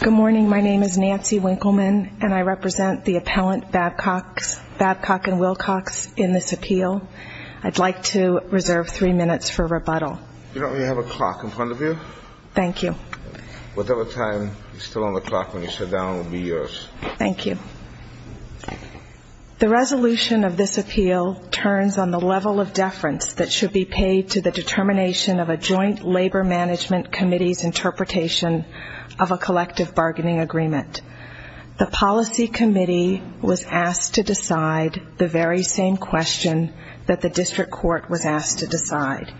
Good morning, my name is Nancy Winkleman and I represent the appellant Babcock & Wilcox in this appeal. I'd like to reserve three minutes for rebuttal. You have a clock in front of you. Thank you. Whatever time is still on the clock when you sit down will be yours. Thank you. The resolution of this appeal turns on the level of deference that should be paid to the determination of a Joint Labor Management Committee's interpretation of a collective bargaining agreement. The policy committee was asked to decide the very same question that the district court was asked to decide.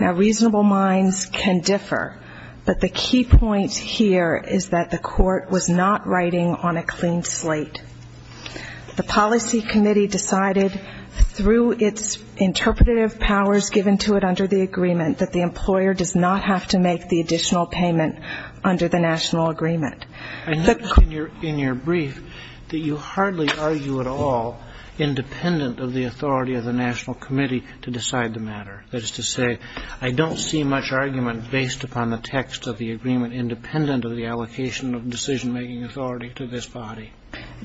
Now, reasonable minds can differ, but the key point here is that the court was not writing on a clean slate. The policy committee decided through its interpretative powers given to it under the agreement that the employer does not have to make the additional payment under the national agreement. I noticed in your brief that you hardly argue at all independent of the authority of the national committee to decide the matter. That is to say, I don't see much argument based upon the text of the agreement independent of the allocation of decision-making authority to this body.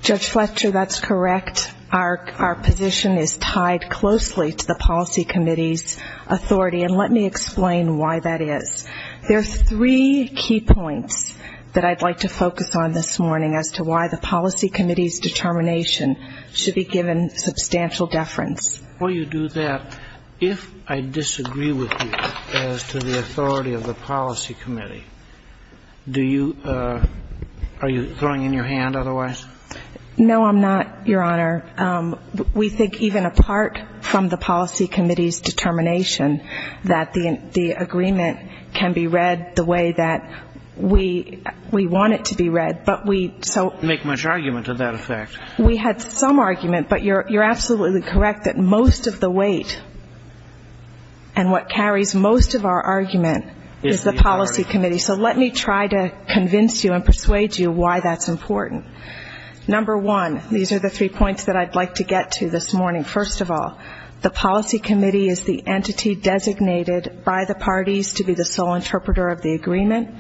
Judge Fletcher, that's correct. But our position is tied closely to the policy committee's authority, and let me explain why that is. There's three key points that I'd like to focus on this morning as to why the policy committee's determination should be given substantial deference. Before you do that, if I disagree with you as to the authority of the policy committee, do you are you throwing in your hand otherwise? No, I'm not, Your Honor. We think even apart from the policy committee's determination that the agreement can be read the way that we want it to be read, but we so Make much argument of that effect. We had some argument, but you're absolutely correct that most of the weight and what carries most of our argument is the policy committee. So let me try to convince you and persuade you why that's important. Number one, these are the three points that I'd like to get to this morning. First of all, the policy committee is the entity designated by the parties to be the sole interpreter of the agreement.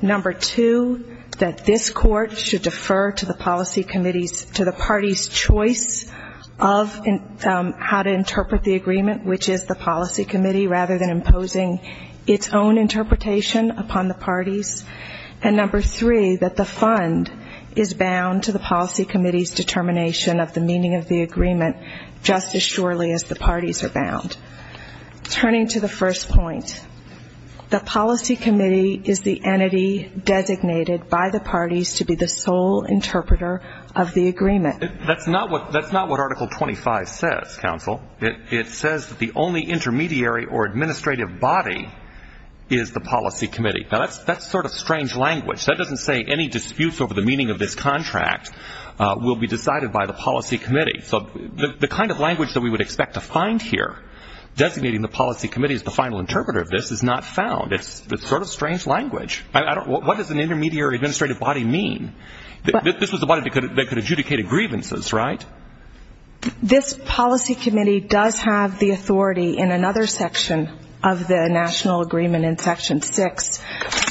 Number two, that this court should defer to the policy committee's, to the party's choice of how to interpret the agreement, which is the policy committee rather than imposing its own interpretation upon the parties. And number three, that the fund is bound to the policy committee's determination of the meaning of the agreement just as surely as the parties are bound. Turning to the first point, the policy committee is the entity designated by the parties to be the sole interpreter of the agreement. That's not what Article 25 says, counsel. It says that the only intermediary or administrative body is the policy committee. Now, that's sort of strange language. That doesn't say any disputes over the meaning of this contract will be decided by the policy committee. So the kind of language that we would expect to find here, designating the policy committee as the final interpreter of this, is not found. It's sort of strange language. What does an intermediary or administrative body mean? This was a body that could adjudicate a grievances, right? This policy committee does have the authority in another section of the national agreement in Section 6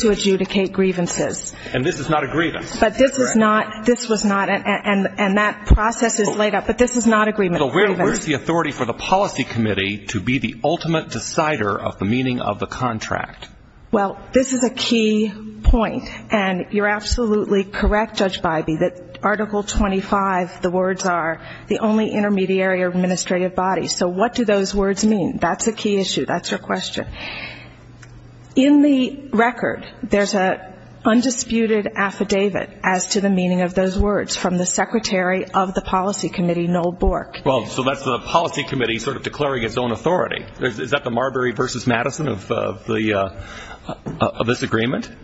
to adjudicate grievances. And this is not a grievance? But this is not, this was not, and that process is laid out, but this is not a grievance. So where is the authority for the policy committee to be the ultimate decider of the meaning of the contract? Well, this is a key point. And you're absolutely correct, Judge Bybee, that Article 25, the only intermediary or administrative body. So what do those words mean? That's a key issue. That's your question. In the record, there's an undisputed affidavit as to the meaning of those words from the secretary of the policy committee, Noel Bork. Well, so that's the policy committee sort of declaring its own authority. Is that the Marbury versus Madison of the, of this agreement? Is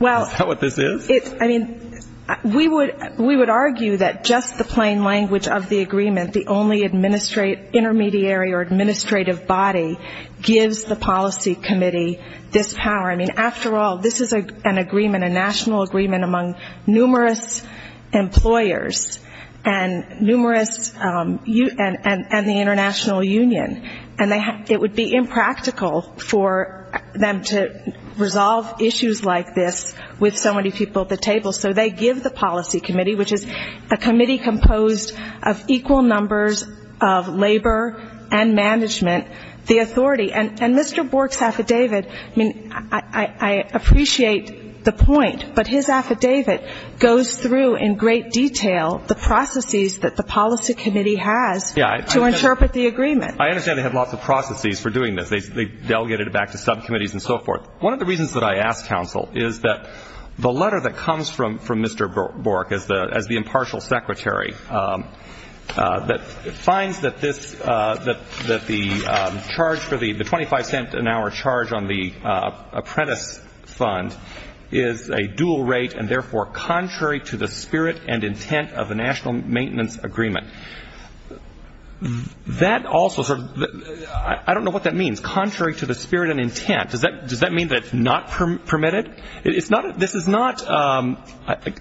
that what this is? It, I mean, we would, we would argue that just the plain language of the agreement, the only administrate, intermediary or administrative body, gives the policy committee this power. I mean, after all, this is an agreement, a national agreement among numerous employers and numerous, and the international union, and it would be impractical for them to resolve issues like this with so many people at the table. So they give the policy committee, which is a committee composed of equal numbers of labor and management, the authority. And, and Mr. Bork's affidavit, I mean, I, I appreciate the point, but his affidavit goes through in great detail the processes that the policy committee has to interpret the agreement. I understand they have lots of processes for doing this. They, they delegated it back to subcommittees and so forth. One of the reasons that I asked counsel is that the letter that comes from, from Mr. Bork as the, as the impartial secretary that finds that this, that, that the charge for the, the 25 cent an hour charge on the apprentice fund is a dual rate and therefore contrary to the spirit and intent of the national maintenance agreement. That also, I don't know what that means. Contrary to the spirit and intent. Does that, does that mean that it's not permitted? It's not, this is not,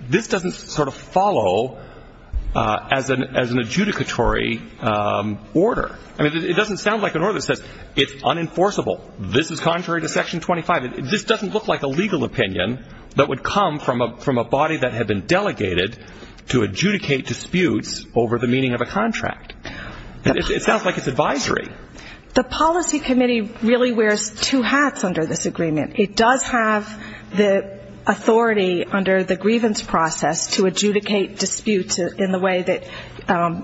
this doesn't sort of follow as an, as an adjudicatory order. I mean, it doesn't sound like an order that says it's unenforceable. This is contrary to section 25. This doesn't look like a legal opinion that would come from a, from a body that had been delegated to adjudicate disputes over the meaning of a contract. It sounds like it's advisory. The policy committee really wears two hats under this agreement. It does have the authority under the grievance process to adjudicate disputes in the way that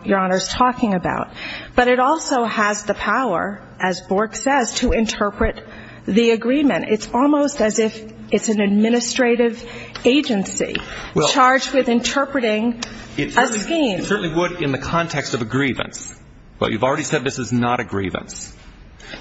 your Honor's talking about. But it also has the power, as Bork says, to interpret the agreement. It's almost as if it's an administrative agency charged with interpreting a scheme. It certainly would in the context of a grievance. But you've already said this is not a grievance.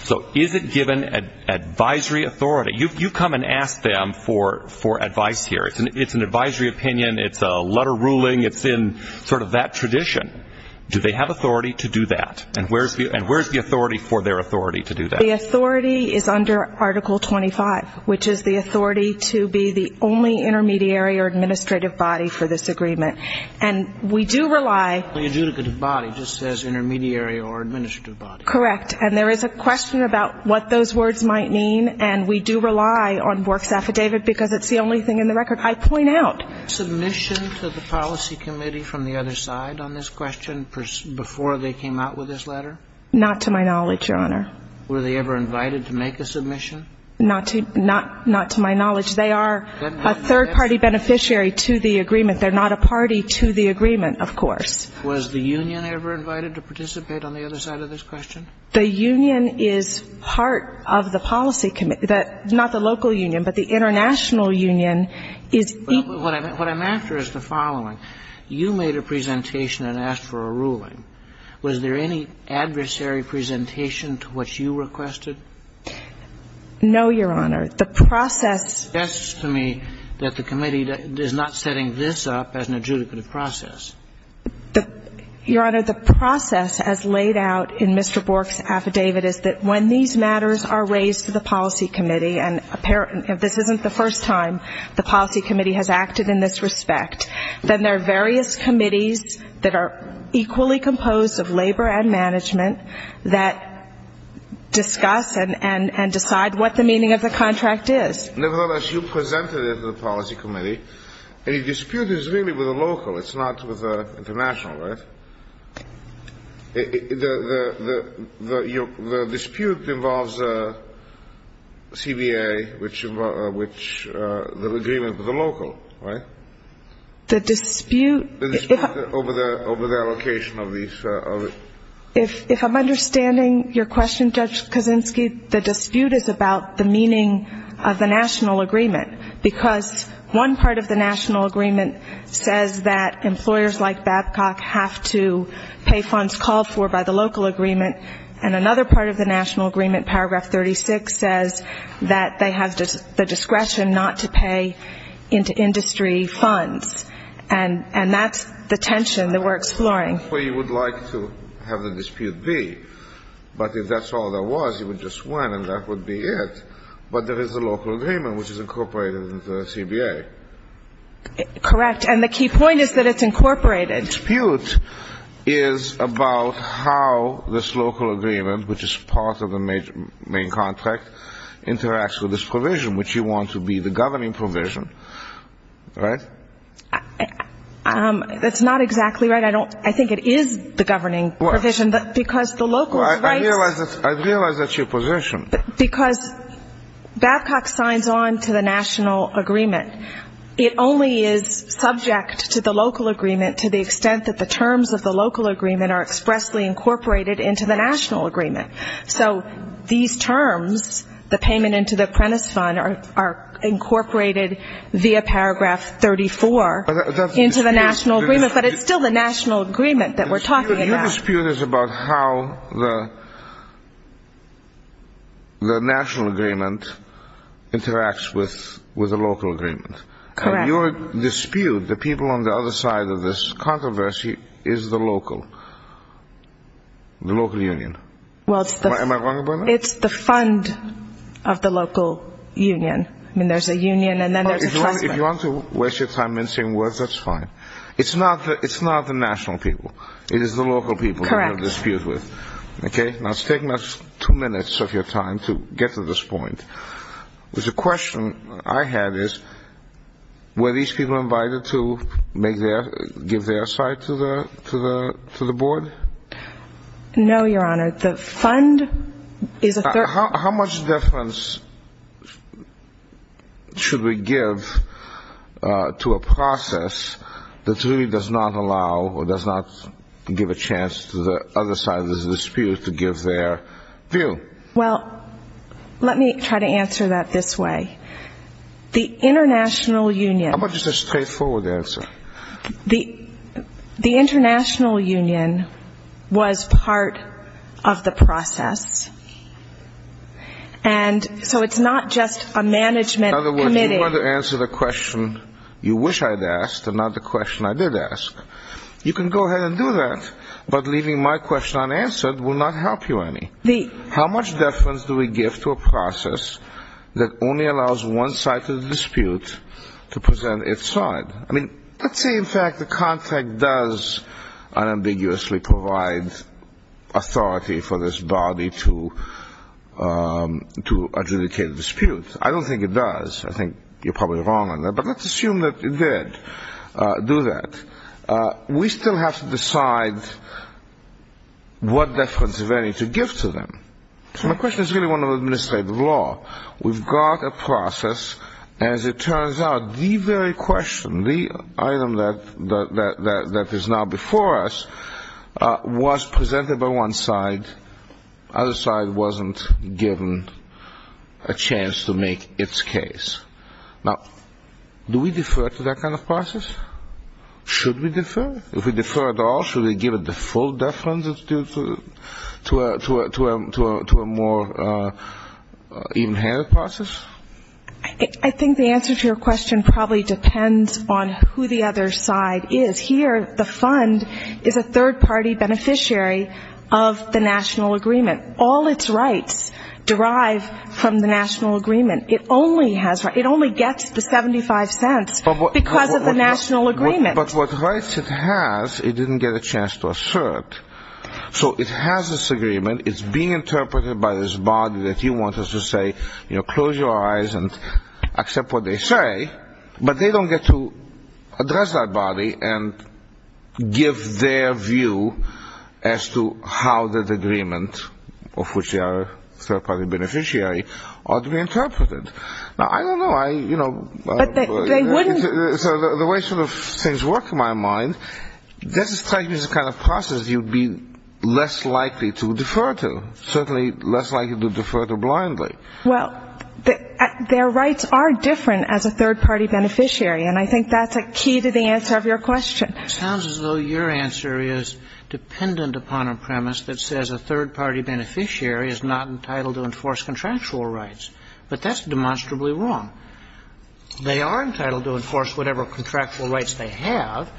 So is it given advisory authority? You've come and asked them for, for advice here. It's an advisory opinion. It's a letter ruling. It's in sort of that tradition. Do they have authority to do that? And where's the, and where's the authority for their authority to do that? The authority is under Article 25, which is the authority to be the only intermediary or administrative body for this agreement. And we do rely – The adjudicative body just says intermediary or administrative body. Correct. And there is a question about what those words might mean. And we do rely on Bork's affidavit because it's the only thing in the record. I point out – Was there submission to the policy committee from the other side on this question before they came out with this letter? Not to my knowledge, Your Honor. Were they ever invited to make a submission? Not to, not, not to my knowledge. They are a third-party beneficiary to the agreement. They're not a party to the agreement, of course. Was the union ever invited to participate on the other side of this question? The union is part of the policy committee. Not the local union, but the international union is – What I'm, what I'm after is the following. You made a presentation and asked for a ruling. Was there any adversary presentation to what you requested? No, Your Honor. The process – It suggests to me that the committee is not setting this up as an adjudicative process. The – Your Honor, the process as laid out in Mr. Bork's affidavit is that when these matters are raised to the policy committee, and apparent – if this isn't the first time the policy committee has acted in this respect, then there are various committees that are equally composed of labor and management that discuss and, and, and decide what the meaning of the contract is. Nevertheless, you presented it to the policy committee, and the dispute is really with the local. It's not with the international, right? The, the, the, the, you know, the dispute involves CBA, which, which, the agreement with the local, right? The dispute – Over the, over the allocation of these, of it. If I'm understanding your question, Judge Kaczynski, the dispute is about the meaning of the national agreement, because one part of the national agreement says that employers like Babcock have to pay funds called for by the local agreement, and another part of the national agreement, paragraph 36, says that they have the discretion not to pay into industry funds, and, and that's the tension that we're exploring. Well, you would like to have the dispute be, but if that's all there was, you would just win, and that would be it, but there is a local agreement, which is incorporated into the CBA. Correct, and the key point is that it's incorporated. The dispute is about how this local agreement, which is part of the major, main contract, interacts with this provision, which you want to be the governing provision, right? That's not exactly right. I don't, I think it is the governing provision, because the local rights – Well, I, I realize that, I realize that's your position. Because Babcock signs on to the national agreement. It only is subject to the local agreement to the extent that the terms of the local agreement are expressly incorporated into the national agreement. So, these terms, the payment into the apprentice fund, are, are incorporated via paragraph 34 into the national agreement, but it's still the national agreement that we're talking about. Your dispute is about how the, the national agreement interacts with, with the local agreement. Correct. And your dispute, the people on the other side of this controversy, is the local, the local union. Well, it's the – Am I wrong about that? It's the fund of the local union. I mean, there's a union and then there's a trust fund. If you want to waste your time in saying words, that's fine. It's not the, it's not the national people. It is the local people that you have a dispute with. Correct. Okay? Now, it's taken us two minutes of your time to get to this point. There's a question I had is, were these people invited to make their, give their side to the, to the, to the board? No, Your Honor. The fund is a – How, how much difference should we give to a process that really does not allow or does not give a chance to the other side of this dispute to give their view? Well, let me try to answer that this way. The international union – How about just a straightforward answer? The, the international union was part of the process. And so it's not just a management committee – In other words, you want to answer the question you wish I'd asked and not the question I did ask. You can go ahead and do that. But leaving my question unanswered will not help you any. The – How much difference do we give to a process that only allows one side to the dispute to present its side? I mean, let's say, in fact, the contract does unambiguously provide authority for this body to, to adjudicate a dispute. I don't think it does. I think you're probably wrong on that. But let's assume that it did do that. We still have to decide what difference of any to give to them. So my question is really one of administrative law. We've got a process. As it turns out, the very question, the item that, that, that, that is now before us was presented by one side. Other side wasn't given a chance to make its case. Now, do we defer to that kind of process? Should we defer? If we defer at all, should we give it the full deference to, to, to a, to a, to a, to a more even-handed process? I think the answer to your question probably depends on who the other side is. Here, the fund is a third-party beneficiary of the national agreement. All its rights derive from the national agreement. It only has, it only gets the 75 cents because of the national agreement. But what rights it has, it didn't get a chance to assert. So it has this agreement. It's being interpreted by this body that you want us to say, you know, close your eyes and accept what they say. But they don't get to address that body and give their view as to how that agreement, of which they are a third-party beneficiary, ought to be interpreted. Now, I don't know. I, you know, so the way sort of things work in my mind, this strikes me as a kind of process you'd be less likely to defer to, certainly less likely to defer to blindly. Well, their rights are different as a third-party beneficiary. And I think that's a key to the answer of your question. Sounds as though your answer is dependent upon a premise that says a third-party beneficiary is not entitled to enforce contractual rights. But that's demonstrably wrong. They are entitled to enforce whatever contractual rights they have.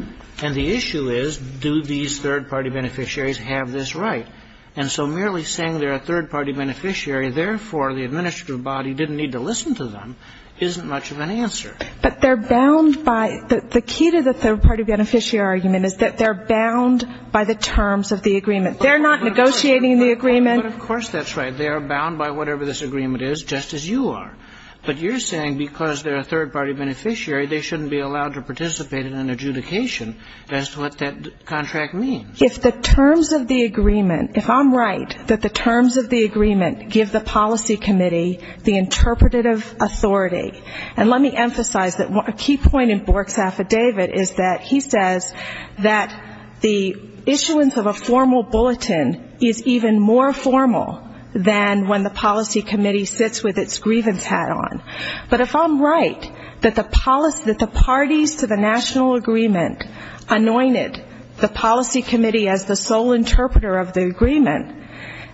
And the issue is, do these third-party beneficiaries have this right? And so merely saying they're a third-party beneficiary, therefore the administrative body didn't need to listen to them, isn't much of an answer. But they're bound by the key to the third-party beneficiary argument is that they're bound by the terms of the agreement. They're not negotiating the agreement. Of course that's right. They are bound by whatever this agreement is, just as you are. But you're saying because they're a third-party beneficiary, they shouldn't be allowed to participate in an adjudication as to what that contract means. If the terms of the agreement, if I'm right that the terms of the agreement give the policy committee the interpretative authority, and let me emphasize that a key point in Bork's affidavit is that he says that the issuance of a formal bulletin is even more formal than when the policy committee sits with its grievance hat on. But if I'm right that the policy, that the parties to the national agreement anointed the policy committee as the sole interpreter of the agreement,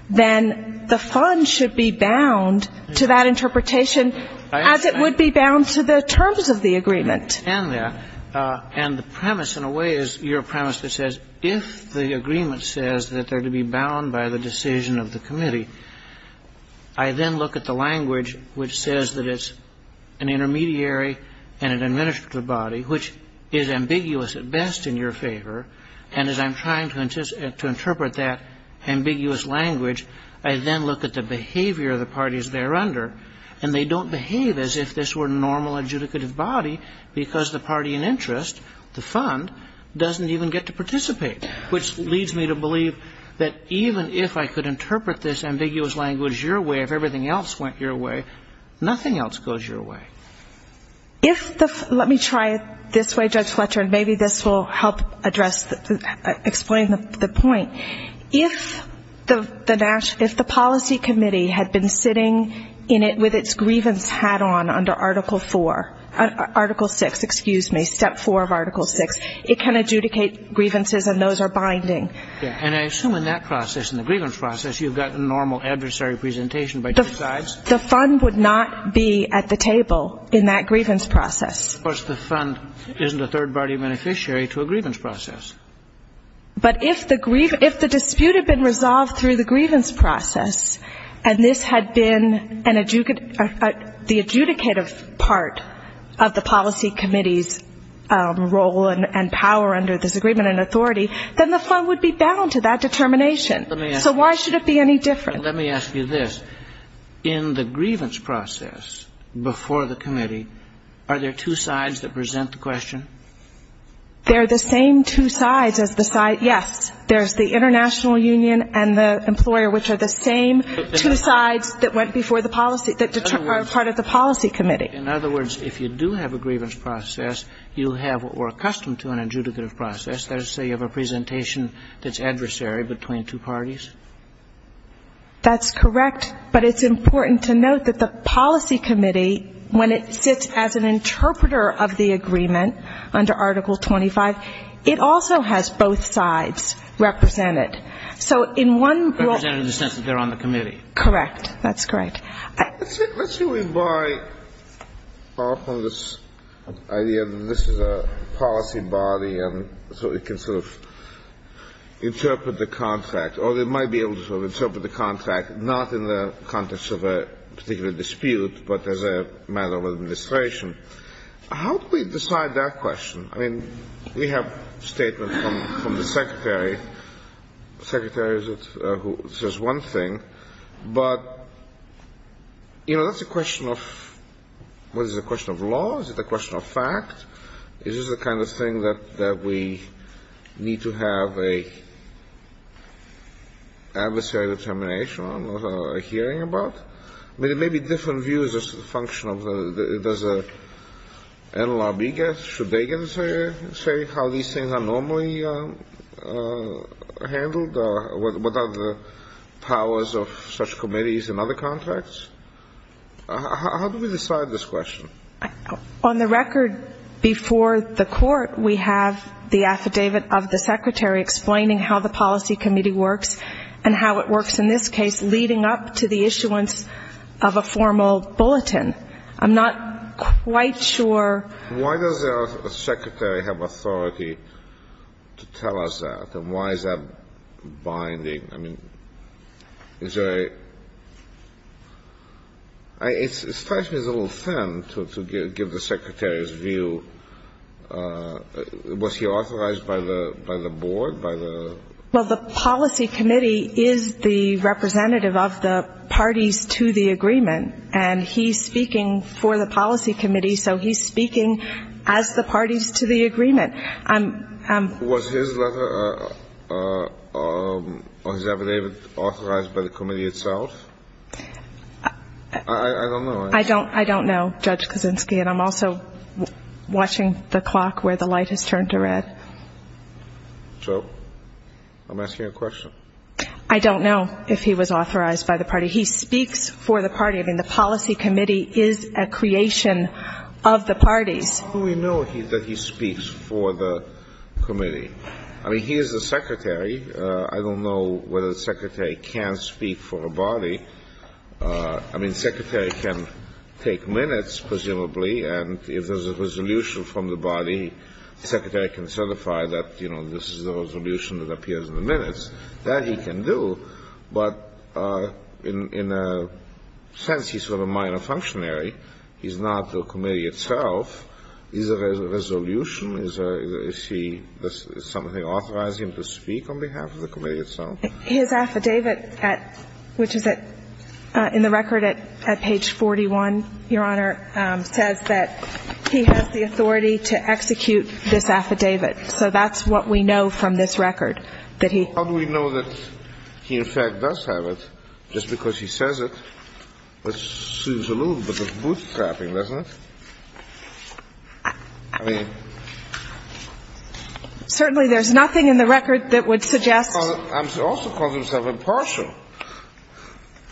then the fund should be bound to that interpretation as it would be bound to the terms of the agreement. I understand that. And the premise, in a way, is your premise that says if the agreement says that they're to be bound by the decision of the committee, I then look at the language which says that it's an intermediary and an administrative body, which is ambiguous at best in your favor. And as I'm trying to interpret that ambiguous language, I then look at the behavior of the parties thereunder, and they don't behave as if this were a normal adjudicative body because the party in interest, the fund, doesn't even get to participate, which leads me to believe that even if I could interpret this ambiguous language as your way, if everything else went your way, nothing else goes your way. If the – let me try it this way, Judge Fletcher, and maybe this will help address – explain the point. If the – if the policy committee had been sitting in it with its grievance hat on under Article IV – Article VI, excuse me, Step 4 of Article VI, it can adjudicate grievances and those are binding. And I assume in that process, in the grievance process, you've got the normal adversary presentation by two sides? The fund would not be at the table in that grievance process. Of course, the fund isn't a third-party beneficiary to a grievance process. But if the – if the dispute had been resolved through the grievance process and this had been an – the adjudicative part of the policy committee's role and power under this agreement and authority, then the fund would be bound to that determination. So why should it be any different? Let me ask you this. In the grievance process before the committee, are there two sides that present the question? There are the same two sides as the side – yes. There's the international union and the employer, which are the same two sides that went before the policy – that are part of the policy committee. In other words, if you do have a grievance process, you have what we're accustomed to in an adjudicative process, that is, say, you have a presentation that's adversary between two parties? That's correct. But it's important to note that the policy committee, when it sits as an interpreter of the agreement under Article 25, it also has both sides represented. So in one role – Represented in the sense that they're on the committee. Correct. That's correct. Let's see if we buy off on this idea that this is a policy body and so it can sort of interpret the contract – or it might be able to sort of interpret the contract not in the context of a particular dispute, but as a matter of administration. How do we decide that question? I mean, we have statements from the secretary. Secretary is who says one thing. But, you know, that's a question of – what is it, a question of law? Is it a question of fact? Is this the kind of thing that we need to have an adversary determination on or hearing about? I mean, there may be different views as a function of – does NLRB get – should they get to say how these things are normally handled or what are the powers of such committees and other contracts? How do we decide this question? On the record before the court, we have the affidavit of the secretary explaining how the policy committee works and how it works in this case leading up to the issuance of a formal bulletin. I'm not quite sure – Why does the secretary have authority to tell us that? And why is that binding? I mean, is there a – it strikes me as a little thin to give the secretary's view. Was he authorized by the board? By the – Well, the policy committee is the representative of the parties to the agreement. And he's speaking for the policy committee. So he's speaking as the parties to the agreement. I'm – Was his letter or his affidavit authorized by the committee itself? I don't know. I don't know, Judge Kuczynski. And I'm also watching the clock where the light has turned to red. So I'm asking a question. I don't know if he was authorized by the party. He speaks for the party. I mean, the policy committee is a creation of the parties. We know that he speaks for the committee. I mean, he is the secretary. I don't know whether the secretary can speak for a body. I mean, the secretary can take minutes, presumably. And if there's a resolution from the body, the secretary can certify that, you know, this is the resolution that appears in the minutes. That he can do. But in a sense, he's sort of a minor functionary. He's not the committee itself. Is there a resolution? Is there – is he – is something authorizing him to speak on behalf of the committee itself? His affidavit at – which is at – in the record at page 41, Your Honor, says that he has the authority to execute this affidavit. So that's what we know from this record, that he – How do we know that he, in fact, does have it? Just because he says it assumes a little bit of bootstrapping, doesn't it? I mean – Certainly, there's nothing in the record that would suggest – Well, he also calls himself impartial.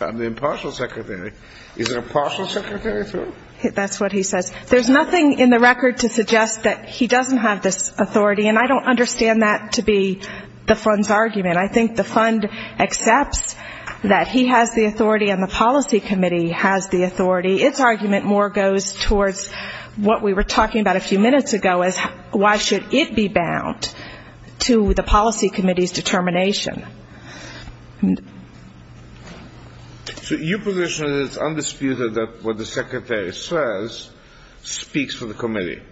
I'm the impartial secretary. Is an impartial secretary, too? That's what he says. There's nothing in the record to suggest that he doesn't have this authority. And I don't understand that to be the fund's argument. It's argument more goes towards what we were talking about a few minutes ago, is why should it be bound to the policy committee's determination? So your position is it's undisputed that what the secretary says speaks for the committee?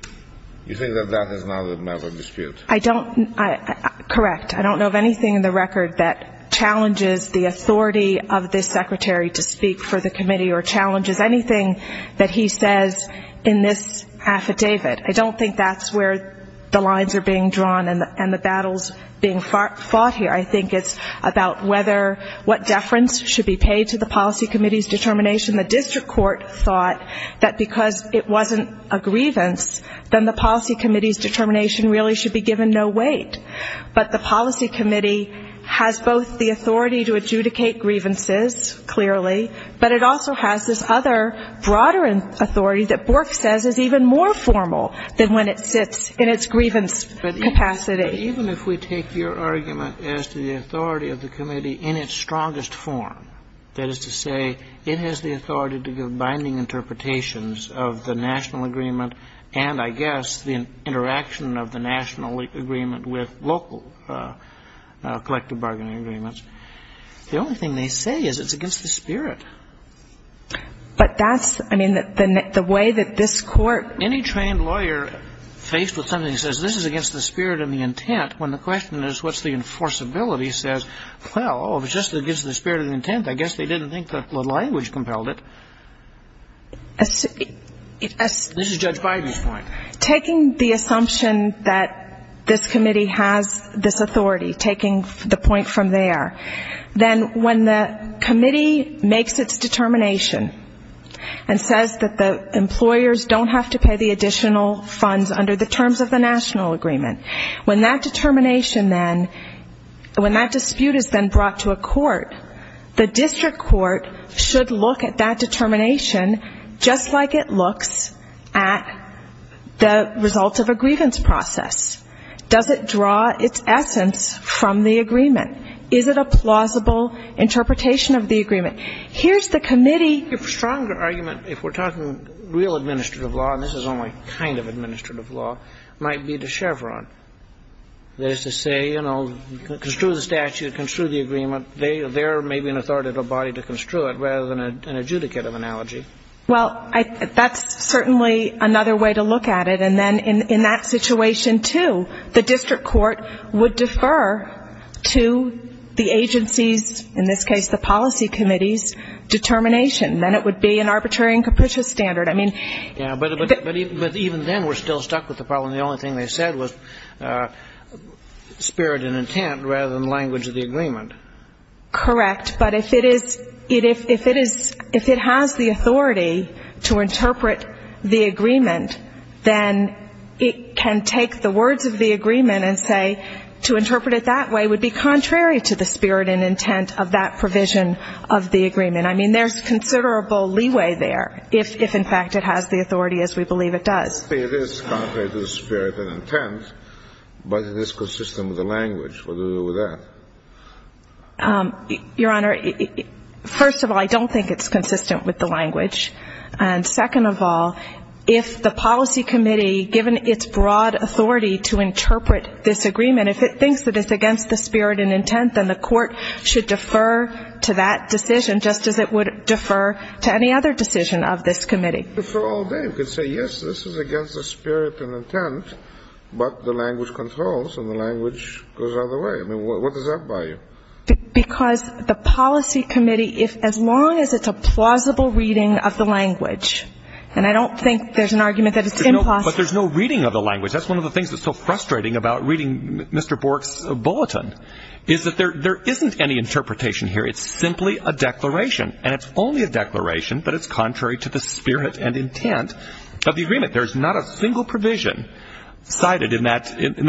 You think that that is not a matter of dispute? I don't – correct. I don't know of anything in the record that challenges the authority of this secretary to speak for the committee or challenges anything that he says in this affidavit. I don't think that's where the lines are being drawn and the battles being fought here. I think it's about whether – what deference should be paid to the policy committee's determination. The district court thought that because it wasn't a grievance, then the policy committee's determination really should be given no weight. But the policy committee has both the authority to adjudicate grievances, clearly, but it also has this other broader authority that Bork says is even more formal than when it sits in its grievance capacity. But even if we take your argument as to the authority of the committee in its strongest form, that is to say, it has the authority to give binding interpretations of the national agreement and, I guess, the interaction of the national agreement with local collective bargaining agreements, the only thing they say is it's against the spirit. But that's – I mean, the way that this court – Any trained lawyer faced with something that says this is against the spirit and the intent, when the question is what's the enforceability, says, well, oh, if it's just against the spirit of the intent, I guess they didn't think that the language compelled it. This is Judge Biden's point. Taking the assumption that this committee has this authority, taking the point from there, then when the committee makes its determination and says that the employers don't have to pay the additional funds under the terms of the national agreement, when that determination then – when that dispute is then brought to a court, the results of a grievance process, does it draw its essence from the agreement? Is it a plausible interpretation of the agreement? Here's the committee – Your stronger argument, if we're talking real administrative law, and this is only kind of administrative law, might be to Chevron, that is to say, you know, construe the statute, construe the agreement, they're maybe an authoritative body to construe it rather than an adjudicative analogy. Well, that's certainly another way to look at it. And then in that situation, too, the district court would defer to the agency's, in this case the policy committee's, determination. Then it would be an arbitrary and capricious standard. I mean – Yeah, but even then we're still stuck with the problem. The only thing they said was spirit and intent rather than language of the agreement. Correct. But if it is – if it is – if it has the authority to interpret the agreement, then it can take the words of the agreement and say to interpret it that way would be contrary to the spirit and intent of that provision of the agreement. I mean, there's considerable leeway there if in fact it has the authority as we believe it does. It is contrary to the spirit and intent, but it is consistent with the language. What do we do with that? Your Honor, first of all, I don't think it's consistent with the language. And second of all, if the policy committee, given its broad authority to interpret this agreement, if it thinks that it's against the spirit and intent, then the court should defer to that decision just as it would defer to any other decision of this committee. You could defer all day. You could say, yes, this is against the spirit and intent, but the language controls and the language goes out of the way. I mean, what does that buy you? Because the policy committee, as long as it's a plausible reading of the language, and I don't think there's an argument that it's implausible. But there's no reading of the language. That's one of the things that's so frustrating about reading Mr. Bork's bulletin is that there isn't any interpretation here. It's simply a declaration. And it's only a declaration, but it's contrary to the spirit and intent of the agreement. There's not a single provision cited in that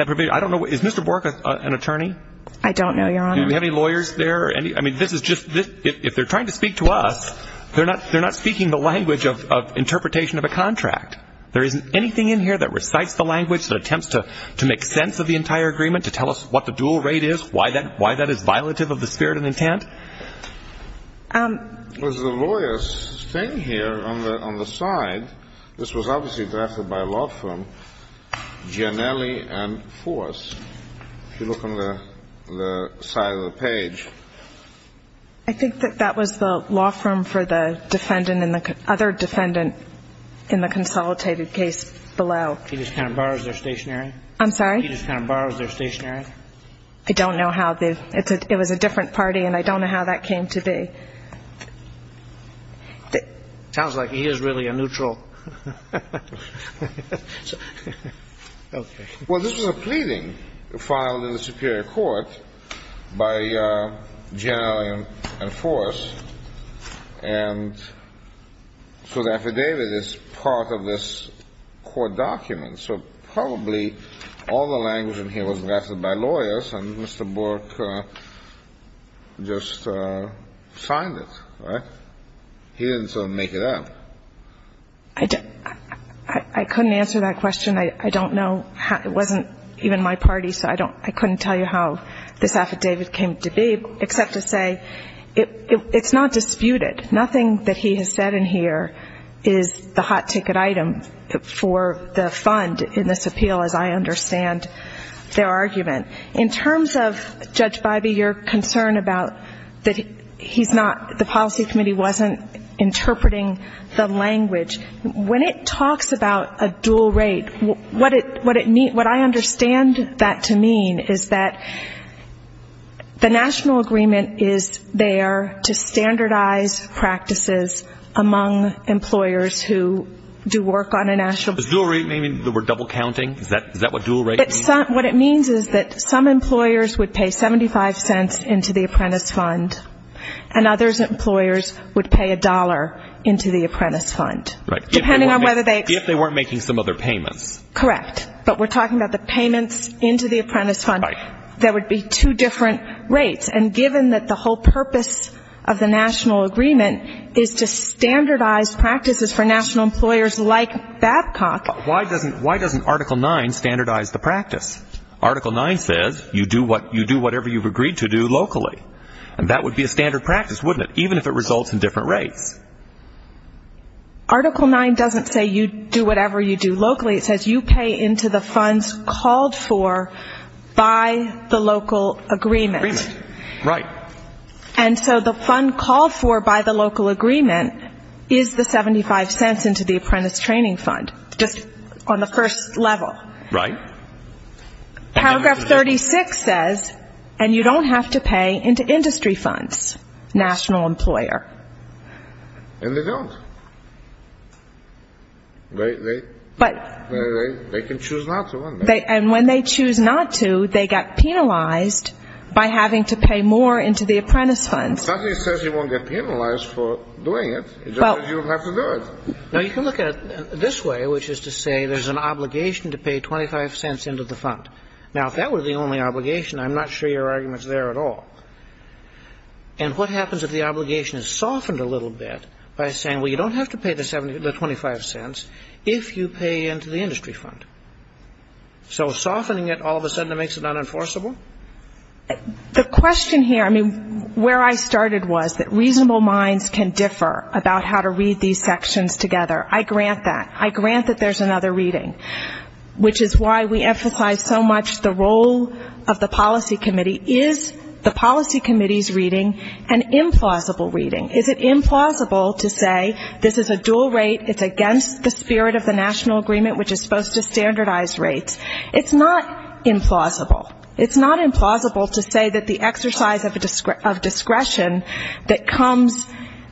provision. I don't know. Is Mr. Bork an attorney? I don't know, Your Honor. Do we have any lawyers there? I mean, if they're trying to speak to us, they're not speaking the language of interpretation of a contract. There isn't anything in here that recites the language, that attempts to make sense of the entire agreement, to tell us what the dual rate is, why that is violative of the spirit and intent. And there's the lawyers staying here on the side. This was obviously drafted by a law firm, Gianelli and Force. If you look on the side of the page. I think that that was the law firm for the defendant and the other defendant in the consolidated case below. He just kind of borrows their stationery? I'm sorry? He just kind of borrows their stationery? I don't know how. It was a different party, and I don't know how that came to be. Sounds like he is really a neutral. Okay. Well, this was a pleading filed in the Superior Court by Gianelli and Force. And so the affidavit is part of this court document. So probably all the language in here was drafted by lawyers, and Mr. Bork just signed it, right? He didn't sort of make it up. I couldn't answer that question. I don't know. It wasn't even my party, so I couldn't tell you how this affidavit came to be, except to say it's not disputed. Nothing that he has said in here is the hot ticket item for the fund in this appeal, as I understand their argument. In terms of, Judge Bybee, your concern about that the policy committee wasn't interpreting the language, when it talks about a dual rate, what I understand that to mean is that the national agreement is there to standardize practices among employers who do work on a national Does dual rate mean the word double counting? Is that what dual rate means? What it means is that some employers would pay 75 cents into the apprentice fund, and others employers would pay a dollar into the apprentice fund. Right. Depending on whether they If they weren't making some other payments. Correct. But we're talking about the payments into the apprentice fund. There would be two different rates. And given that the whole purpose of the national agreement is to standardize practices for national employers like Babcock Why doesn't Article 9 standardize the practice? Article 9 says you do whatever you've agreed to do locally. And that would be a standard practice, wouldn't it? Even if it results in different rates. Article 9 doesn't say you do whatever you do locally. It says you pay into the funds called for by the local agreement. Right. And so the fund called for by the local agreement is the 75 cents into the apprentice training fund. Just on the first level. Right. Paragraph 36 says, and you don't have to pay into industry funds, national employer. And they don't. They can choose not to. And when they choose not to, they get penalized by having to pay more into the apprentice funds. Something says you won't get penalized for doing it. It just means you don't have to do it. Now, you can look at it this way, which is to say there's an obligation to pay 25 cents into the fund. Now, if that were the only obligation, I'm not sure your argument's there at all. And what happens if the obligation is softened a little bit by saying, well, you don't have to pay the 25 cents if you pay into the industry fund? So softening it all of a sudden makes it unenforceable? The question here, I mean, where I started was that reasonable minds can differ about how to read these sections together. I grant that. I grant that there's another reading, which is why we emphasize so much the role of the policy committee. Is the policy committee's reading an implausible reading? Is it implausible to say this is a dual rate, it's against the spirit of the national agreement, which is supposed to standardize rates? It's not implausible. It's not implausible to say that the exercise of discretion that comes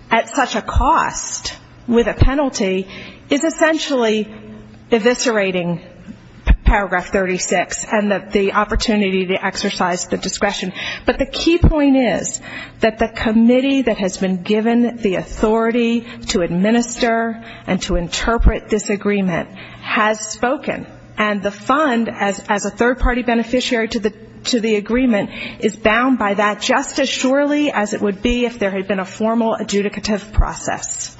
at such a cost with a penalty is essentially eviscerating Paragraph 36 and the opportunity to exercise the discretion. But the key point is that the committee that has been given the authority to administer and to interpret this agreement has spoken. And the fund, as a third-party beneficiary to the agreement, is bound by that just as surely as it would be if there had been a formal adjudicative process.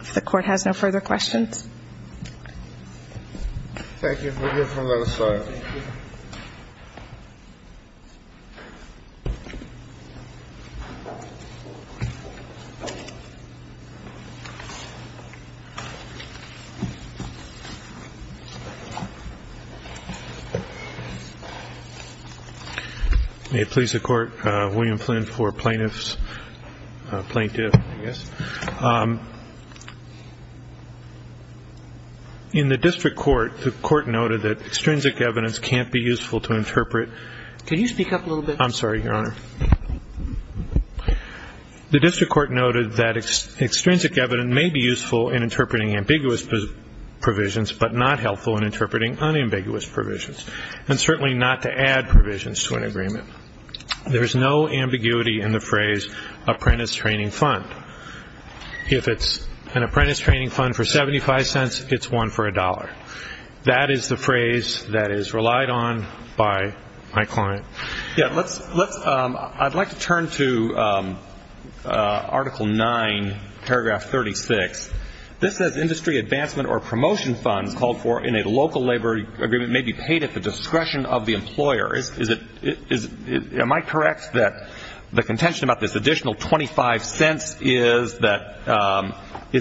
If the Court has no further questions. Thank you. We'll give him another slide. May it please the Court, William Flynn for plaintiff's, plaintiff, I guess. In the district court, the court noted that extrinsic evidence can't be useful to interpret. Can you speak up a little bit? I'm sorry, Your Honor. The district court noted that extrinsic evidence may be useful in interpreting ambiguous provisions, but not helpful in interpreting unambiguous provisions, and certainly not to add provisions to an agreement. There is no ambiguity in the phrase apprentice training fund. If it's an apprentice training fund for $0.75, it's one for $1. That is the phrase that is relied on by my client. I'd like to turn to Article 9, Paragraph 36. This says industry advancement or promotion funds called for in a local labor agreement may be paid at the discretion of the employer. Am I correct that the contention about this additional $0.25 is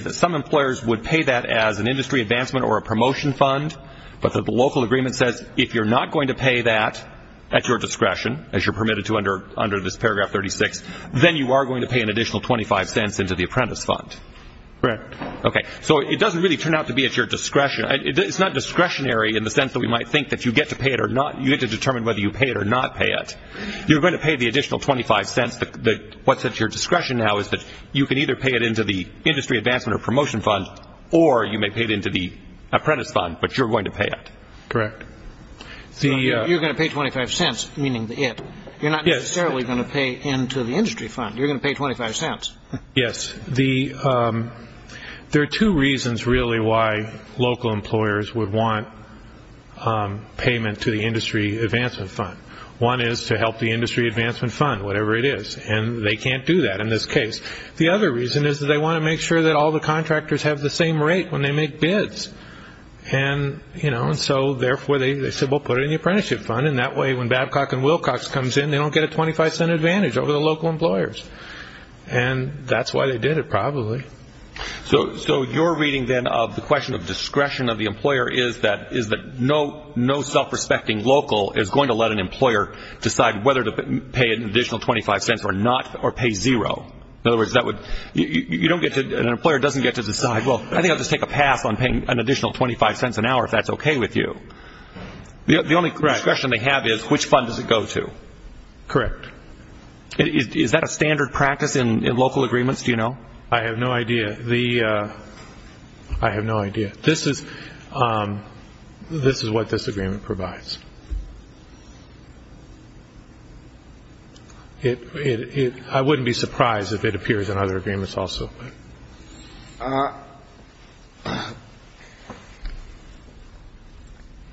that some employers would pay that as an industry advancement or a promotion fund, but that the local agreement says if you're not going to pay that at your discretion, as you're permitted to under this Paragraph 36, then you are going to pay an additional $0.25 into the apprentice fund? Correct. Okay. So it doesn't really turn out to be at your discretion. It's not discretionary in the sense that we might think that you get to pay it or not. You get to determine whether you pay it or not pay it. You're going to pay the additional $0.25. What's at your discretion now is that you can either pay it into the industry advancement or promotion fund, or you may pay it into the apprentice fund, but you're going to pay it. Correct. You're going to pay $0.25, meaning the it. You're not necessarily going to pay into the industry fund. You're going to pay $0.25. Yes. There are two reasons really why local employers would want payment to the industry advancement fund. One is to help the industry advancement fund, whatever it is, and they can't do that in this case. The other reason is that they want to make sure that all the contractors have the same rate when they make bids. Therefore, they said, well, put it in the apprenticeship fund, and that way when Babcock and Wilcox comes in, they don't get a $0.25 advantage over the local employers. That's why they did it, probably. So your reading then of the question of discretion of the employer is that no self-respecting local is going to let an employer decide whether to pay an additional $0.25 or not, or pay zero. In other words, an employer doesn't get to decide, well, I think I'll just take a pass on paying an additional $0.25 an hour if that's okay with you. The only discretion they have is which fund does it go to. Correct. Is that a standard practice in local agreements, do you know? I have no idea. I have no idea. This is what this agreement provides. I wouldn't be surprised if it appears in other agreements also.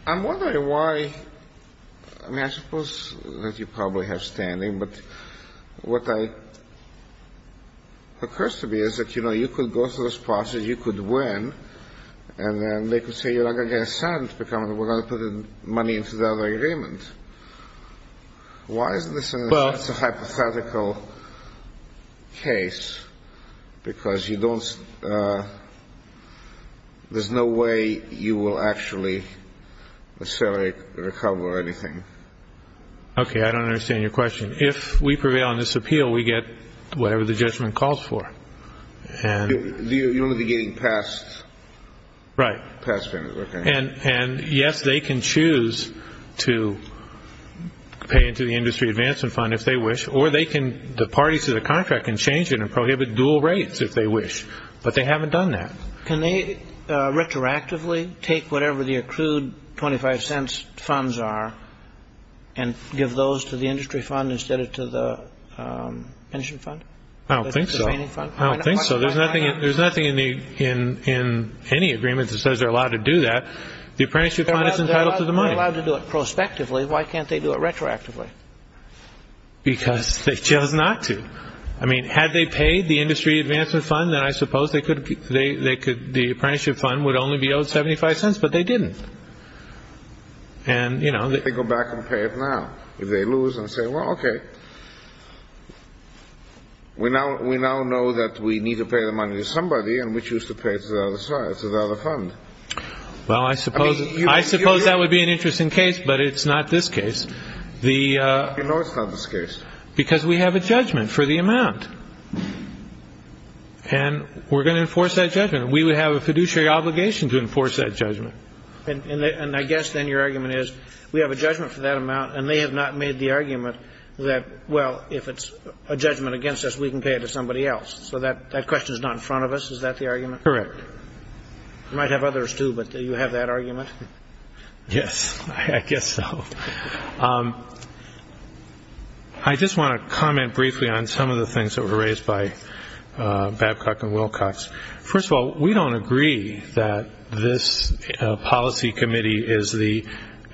I'm wondering why, I mean, I suppose that you probably have standing, but what occurs to me is that, you know, you could go through this process, you could win, and then they could say, you're not going to get a cent because we're going to put the money into the other agreement. Why is this a hypothetical case? Because you don't, there's no way you will actually necessarily recover anything. Okay, I don't understand your question. If we prevail in this appeal, we get whatever the judgment calls for. And you'll be getting passed. Right. Passed, okay. And yes, they can choose to pay into the industry advancement fund if they wish, or they can, the parties to the contract can change it and prohibit dual rates if they wish. But they haven't done that. Can they retroactively take whatever the accrued $0.25 funds are and give those to the industry fund instead of to the pension fund? I don't think so. I don't think so. There's nothing in any agreement that says they're allowed to do that. The apprenticeship fund is entitled to the money. They're allowed to do it prospectively. Why can't they do it retroactively? Because they chose not to. I mean, had they paid the industry advancement fund, then I suppose they could, the apprenticeship fund would only be owed $0.75, but they didn't. And, you know. What if they go back and pay it now? If they lose and say, well, okay, we now know that we need to pay the money to somebody and we choose to pay it to the other side, to the other fund. Well, I suppose that would be an interesting case, but it's not this case. You know it's not this case. Because we have a judgment for the amount. And we're going to enforce that judgment. We would have a fiduciary obligation to enforce that judgment. And I guess then your argument is, we have a judgment for that amount, and they have not made the argument that, well, if it's a judgment against us, we can pay it to somebody else. So that question is not in front of us. Is that the argument? Correct. You might have others too, but you have that argument? Yes, I guess so. I just want to comment briefly on some of the things that were raised by Babcock and Wilcox. First of all, we don't agree that this policy committee is the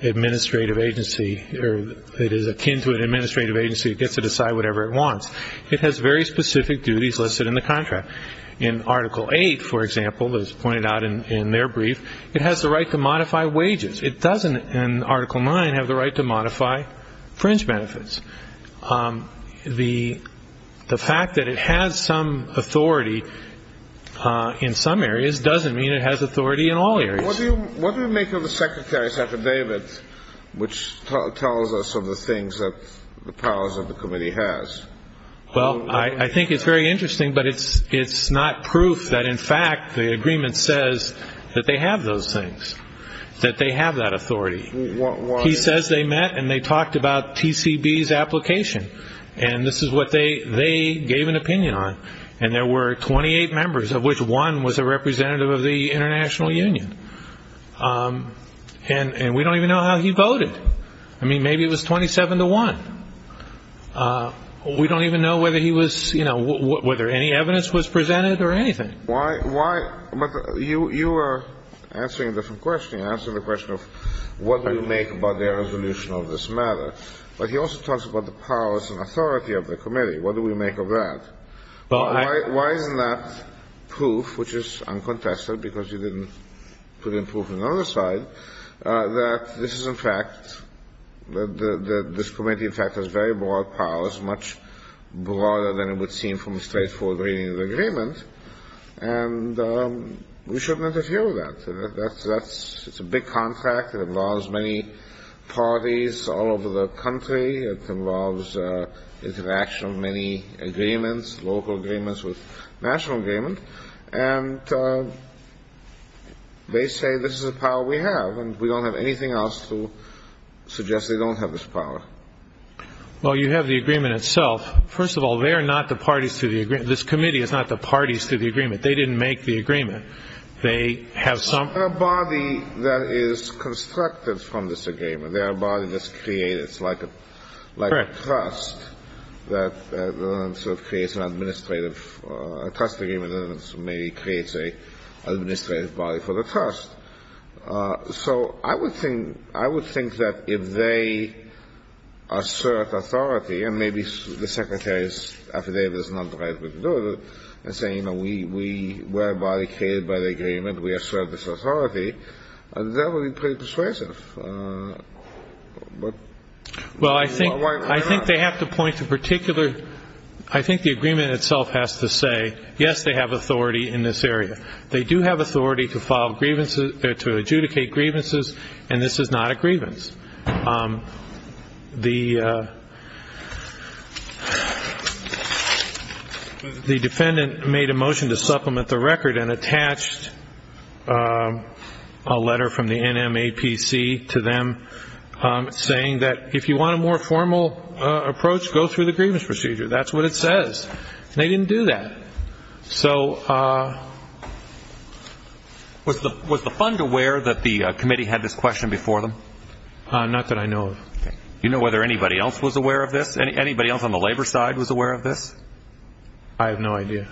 administrative agency, or it is akin to an administrative agency. It gets to decide whatever it wants. It has very specific duties listed in the contract. In Article 8, for example, as pointed out in their brief, it has the right to modify wages. It doesn't, in Article 9, have the right to modify fringe benefits. The fact that it has some authority in some areas doesn't mean it has authority in all areas. What do you make of the Secretary, Secretary David, which tells us of the things that the powers of the committee has? Well, I think it's very interesting, but it's not proof that, in fact, the agreement says that they have those things, that they have that authority. He says they met, and they talked about TCB's application, and this is what they gave an opinion on. And there were 28 members, of which one was a representative of the international union. And we don't even know how he voted. I mean, maybe it was 27 to 1. We don't even know whether he was, you know, whether any evidence was presented or anything. Why? Why? But you are answering a different question. You're answering the question of what do we make about their resolution of this matter. But he also talks about the powers and authority of the committee. What do we make of that? Why isn't that proof, which is uncontested because you didn't put in proof on the other side, that this is, in fact, that this committee, in fact, has very broad powers, much broader than it would seem from a straightforward reading of the agreement, and we shouldn't interfere with that. It's a big contract. It involves many parties all over the country. It involves interaction of many agreements, local agreements with national agreement. And they say this is the power we have, and we don't have anything else to suggest they don't have this power. Well, you have the agreement itself. First of all, they are not the parties to the agreement. This committee is not the parties to the agreement. They didn't make the agreement. They have some ---- They are a body that is constructed from this agreement. They are a body that's created. It's like a trust that sort of creates an administrative trust agreement and maybe creates an administrative body for the trust. So I would think that if they assert authority, and maybe the Secretary's affidavit is not the right way to do it, and say, you know, we are a body created by the agreement, we assert this authority, that would be pretty persuasive. Well, I think they have to point to particular ---- I think the agreement itself has to say, yes, they have authority in this area. They do have authority to file grievances, to adjudicate grievances, and this is not a grievance. The defendant made a motion to supplement the record and attached a letter from the NMAPC to them saying that if you want a more formal approach, go through the grievance procedure. That's what it says. They didn't do that. So was the fund aware that the committee had this question before them? Not that I know of. You know whether anybody else was aware of this? Anybody else on the labor side was aware of this? I have no idea.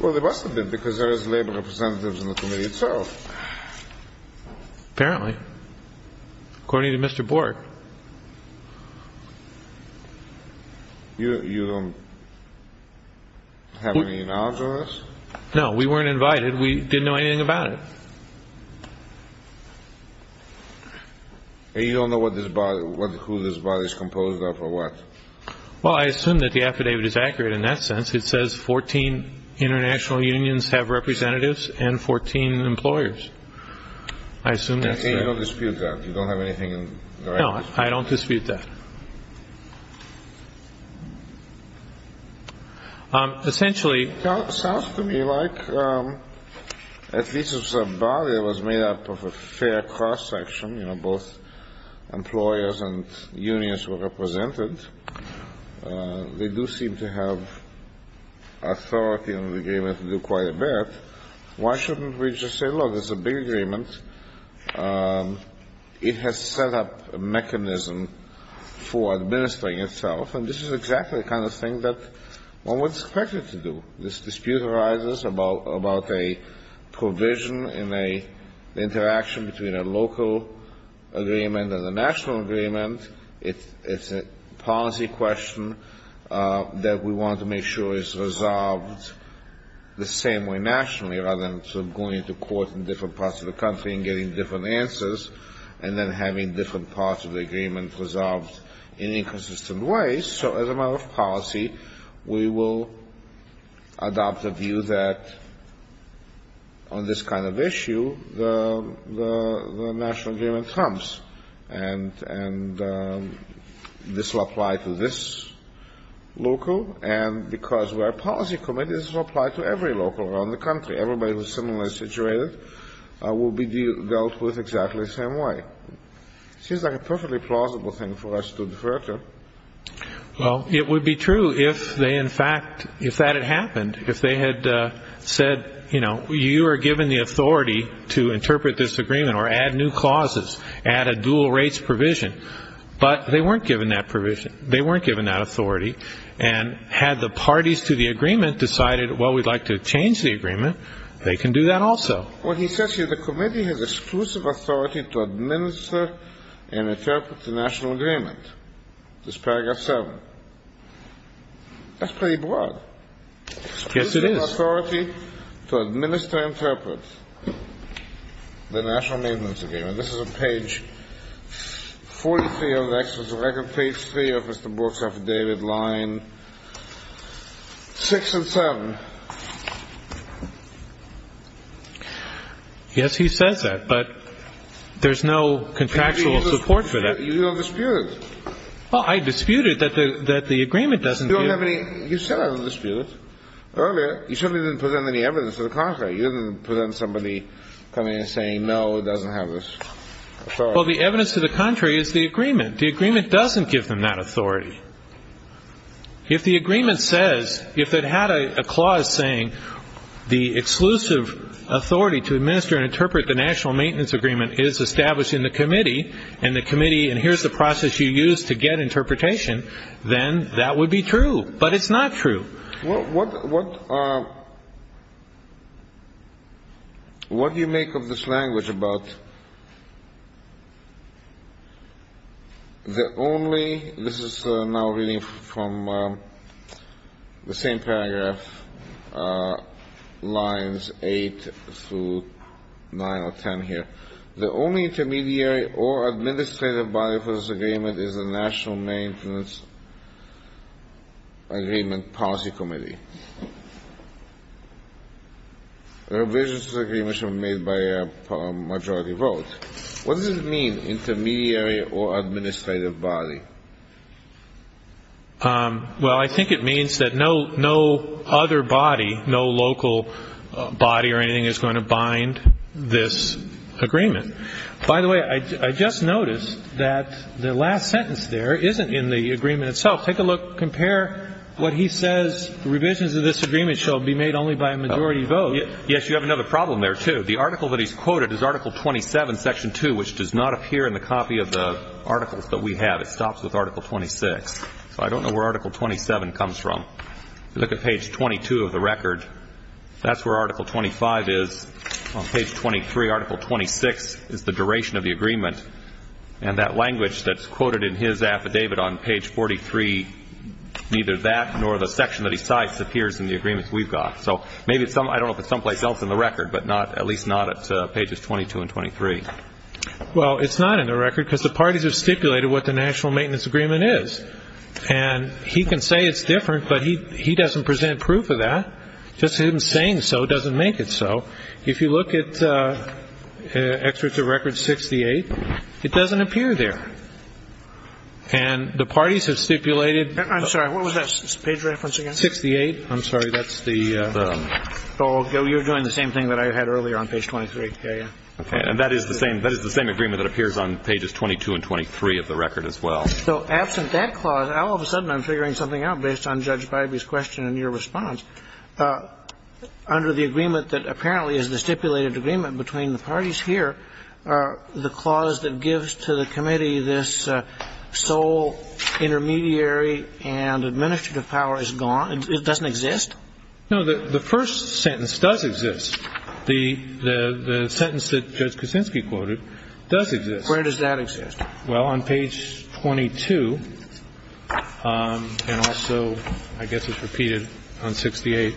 Well, there must have been, because there is labor representatives in the committee itself. Apparently. According to Mr. Bork. You have any knowledge of this? No, we weren't invited. We didn't know anything about it. And you don't know what this body, who this body is composed of or what? Well, I assume that the affidavit is accurate in that sense. It says 14 international unions have representatives and 14 employers. I assume that's fair. You don't dispute that. You don't have anything in the record? No, I don't dispute that. Essentially. Sounds to me like at least it's a body that was made up of a fair cross-section, both employers and unions were represented. They do seem to have authority in the agreement to do quite a bit. Why shouldn't we just say, look, it's a big agreement. It has set up a mechanism for administering itself. And this is exactly the kind of thing that one would expect it to do. This dispute arises about a provision in the interaction between a local agreement and a national agreement. It's a policy question that we want to make sure is resolved the same way nationally, rather than going to court in different parts of the country and getting different answers and then having different parts of the agreement resolved in inconsistent ways. So as a matter of policy, we will adopt the view that on this kind of issue, the national agreement comes and this will apply to this local. And because we're a policy committee, this will apply to every local around the country. Everybody who's similarly situated will be dealt with exactly the same way. Seems like a perfectly plausible thing for us to defer to. Well, it would be true if they, in fact, if that had happened, if they had said, you know, you are given the authority to interpret this agreement or add new clauses, add a dual rates provision. But they weren't given that provision. They weren't given that authority. And had the parties to the agreement decided, well, we'd like to change the agreement. They can do that also. What he says here, the committee has exclusive authority to administer and interpret the national agreement. This paragraph seven. That's pretty broad. Yes, it is. Authority to administer and interpret the national maintenance agreement. This is a page 43 of the records, page three of Mr. Brooks affidavit line six and seven. Yes, he says that, but there's no contractual support for that. You don't dispute it. Well, I disputed that the that the agreement doesn't. You don't have any. You said I would dispute it earlier. You certainly didn't present any evidence to the contrary. You didn't present somebody coming and saying, no, it doesn't have this. Well, the evidence to the contrary is the agreement. The agreement doesn't give them that authority. If the agreement says if it had a clause saying the exclusive authority to administer and interpret the national maintenance agreement is established in the committee and the committee and here's the process you use to get interpretation, then that would be true. But it's not true. Well, what what what do you make of this language about? The only this is now reading from the same paragraph lines eight through nine or 10 here. The only intermediary or administrative body for this agreement is the National Maintenance Agreement Policy Committee. There are visions of the agreement made by a majority vote. What does it mean intermediary or administrative body? Well, I think it means that no no other body, no local body or anything is going to bind this agreement. By the way, I just noticed that the last sentence there isn't in the agreement itself. Take a look. Compare what he says. The revisions of this agreement shall be made only by a majority vote. Yes, you have another problem there, too. The article that he's quoted is Article 27, Section 2, which does not appear in the copy of the articles that we have. It stops with Article 26. So I don't know where Article 27 comes from. Look at page 22 of the record. That's where Article 25 is. On page 23, Article 26 is the duration of the agreement. And that language that's quoted in his affidavit on page 43, neither that nor the section that he cites appears in the agreements we've got. So maybe it's some I don't know if it's someplace else in the record, but not at least not at pages 22 and 23. Well, it's not in the record because the parties have stipulated what the National Maintenance Agreement is. And he can say it's different, but he doesn't present proof of that. Just him saying so doesn't make it so. If you look at excerpts of record 68, it doesn't appear there. And the parties have stipulated. I'm sorry, what was that page reference again? 68. I'm sorry, that's the. So you're doing the same thing that I had earlier on page 23. Yeah, yeah. And that is the same. That is the same agreement that appears on pages 22 and 23 of the record as well. So absent that clause, all of a sudden I'm figuring something out based on Judge Bybee's question and your response. Under the agreement that apparently is the stipulated agreement between the parties here, the clause that gives to the committee this sole intermediary and administrative power is gone. It doesn't exist. No, the first sentence does exist. The sentence that Judge Kuczynski quoted does exist. Where does that exist? Well, on page 22 and also, I guess it's repeated on 68.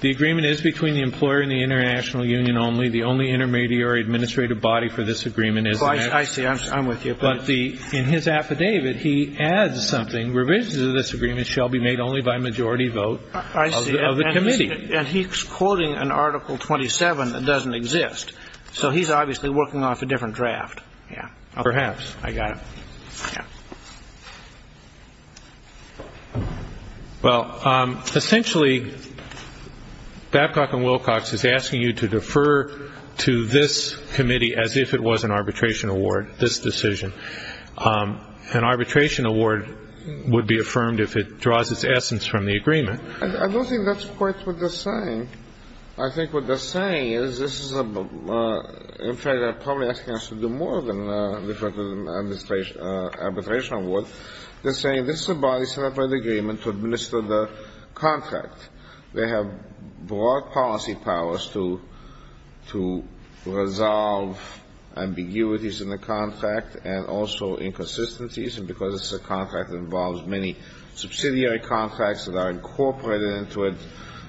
The agreement is between the employer and the international union only. The only intermediary administrative body for this agreement is. I see. I'm with you. But in his affidavit, he adds something. Revisions of this agreement shall be made only by majority vote of the committee. And he's quoting an article 27 that doesn't exist. So he's obviously working off a different draft. Yeah. Perhaps. I got it. Well, essentially, Babcock and Wilcox is asking you to defer to this committee as if it was an arbitration award, this decision. An arbitration award would be affirmed if it draws its essence from the agreement. I don't think that's quite what they're saying. I think what they're saying is this is a, in fact, they're probably asking us to do more than defer to the arbitration award. They're saying this is a body set up by the agreement to administer the contract. They have broad policy powers to resolve ambiguities in the contract and also inconsistencies. And because it's a contract that involves many subsidiary contracts that are incorporated into it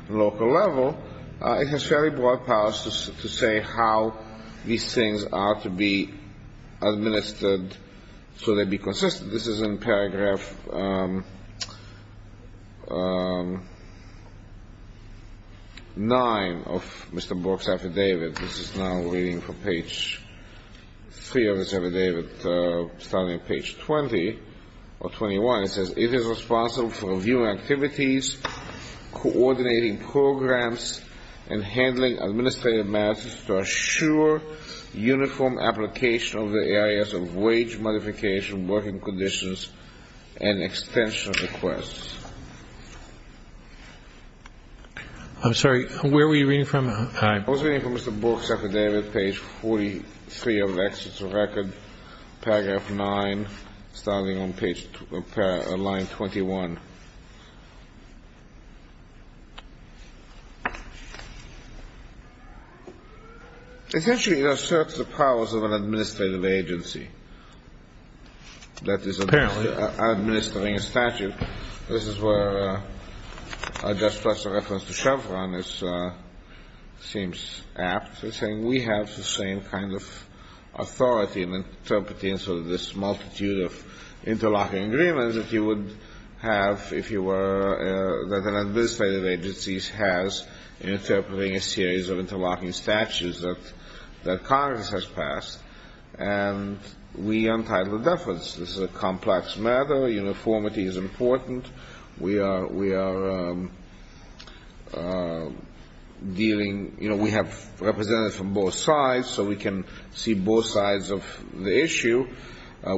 at a local level, it has fairly broad powers to say how these things are to be administered so they be consistent. This is in paragraph 9 of Mr. Bork's affidavit. This is now waiting for page 3 of his affidavit, starting page 20 or 21. It is responsible for reviewing activities, coordinating programs, and handling administrative matters to assure uniform application of the areas of wage modification, working conditions, and extension requests. I'm sorry, where were you reading from? I was reading from Mr. Bork's affidavit, page 43 of it. It's a record, paragraph 9, starting on line 21. Essentially, it asserts the powers of an administrative agency that is administering a statute. This is where I just pressed a reference to Chevron. It seems apt to say we have the same kind of authority in interpreting sort of this multitude of interlocking agreements that you would have if you were – that an administrative agency has in interpreting a series of interlocking statutes that Congress has passed. And we untitled deference. This is a complex matter. Uniformity is important. We are dealing – you know, we have representatives from both sides, so we can see both sides of the issue.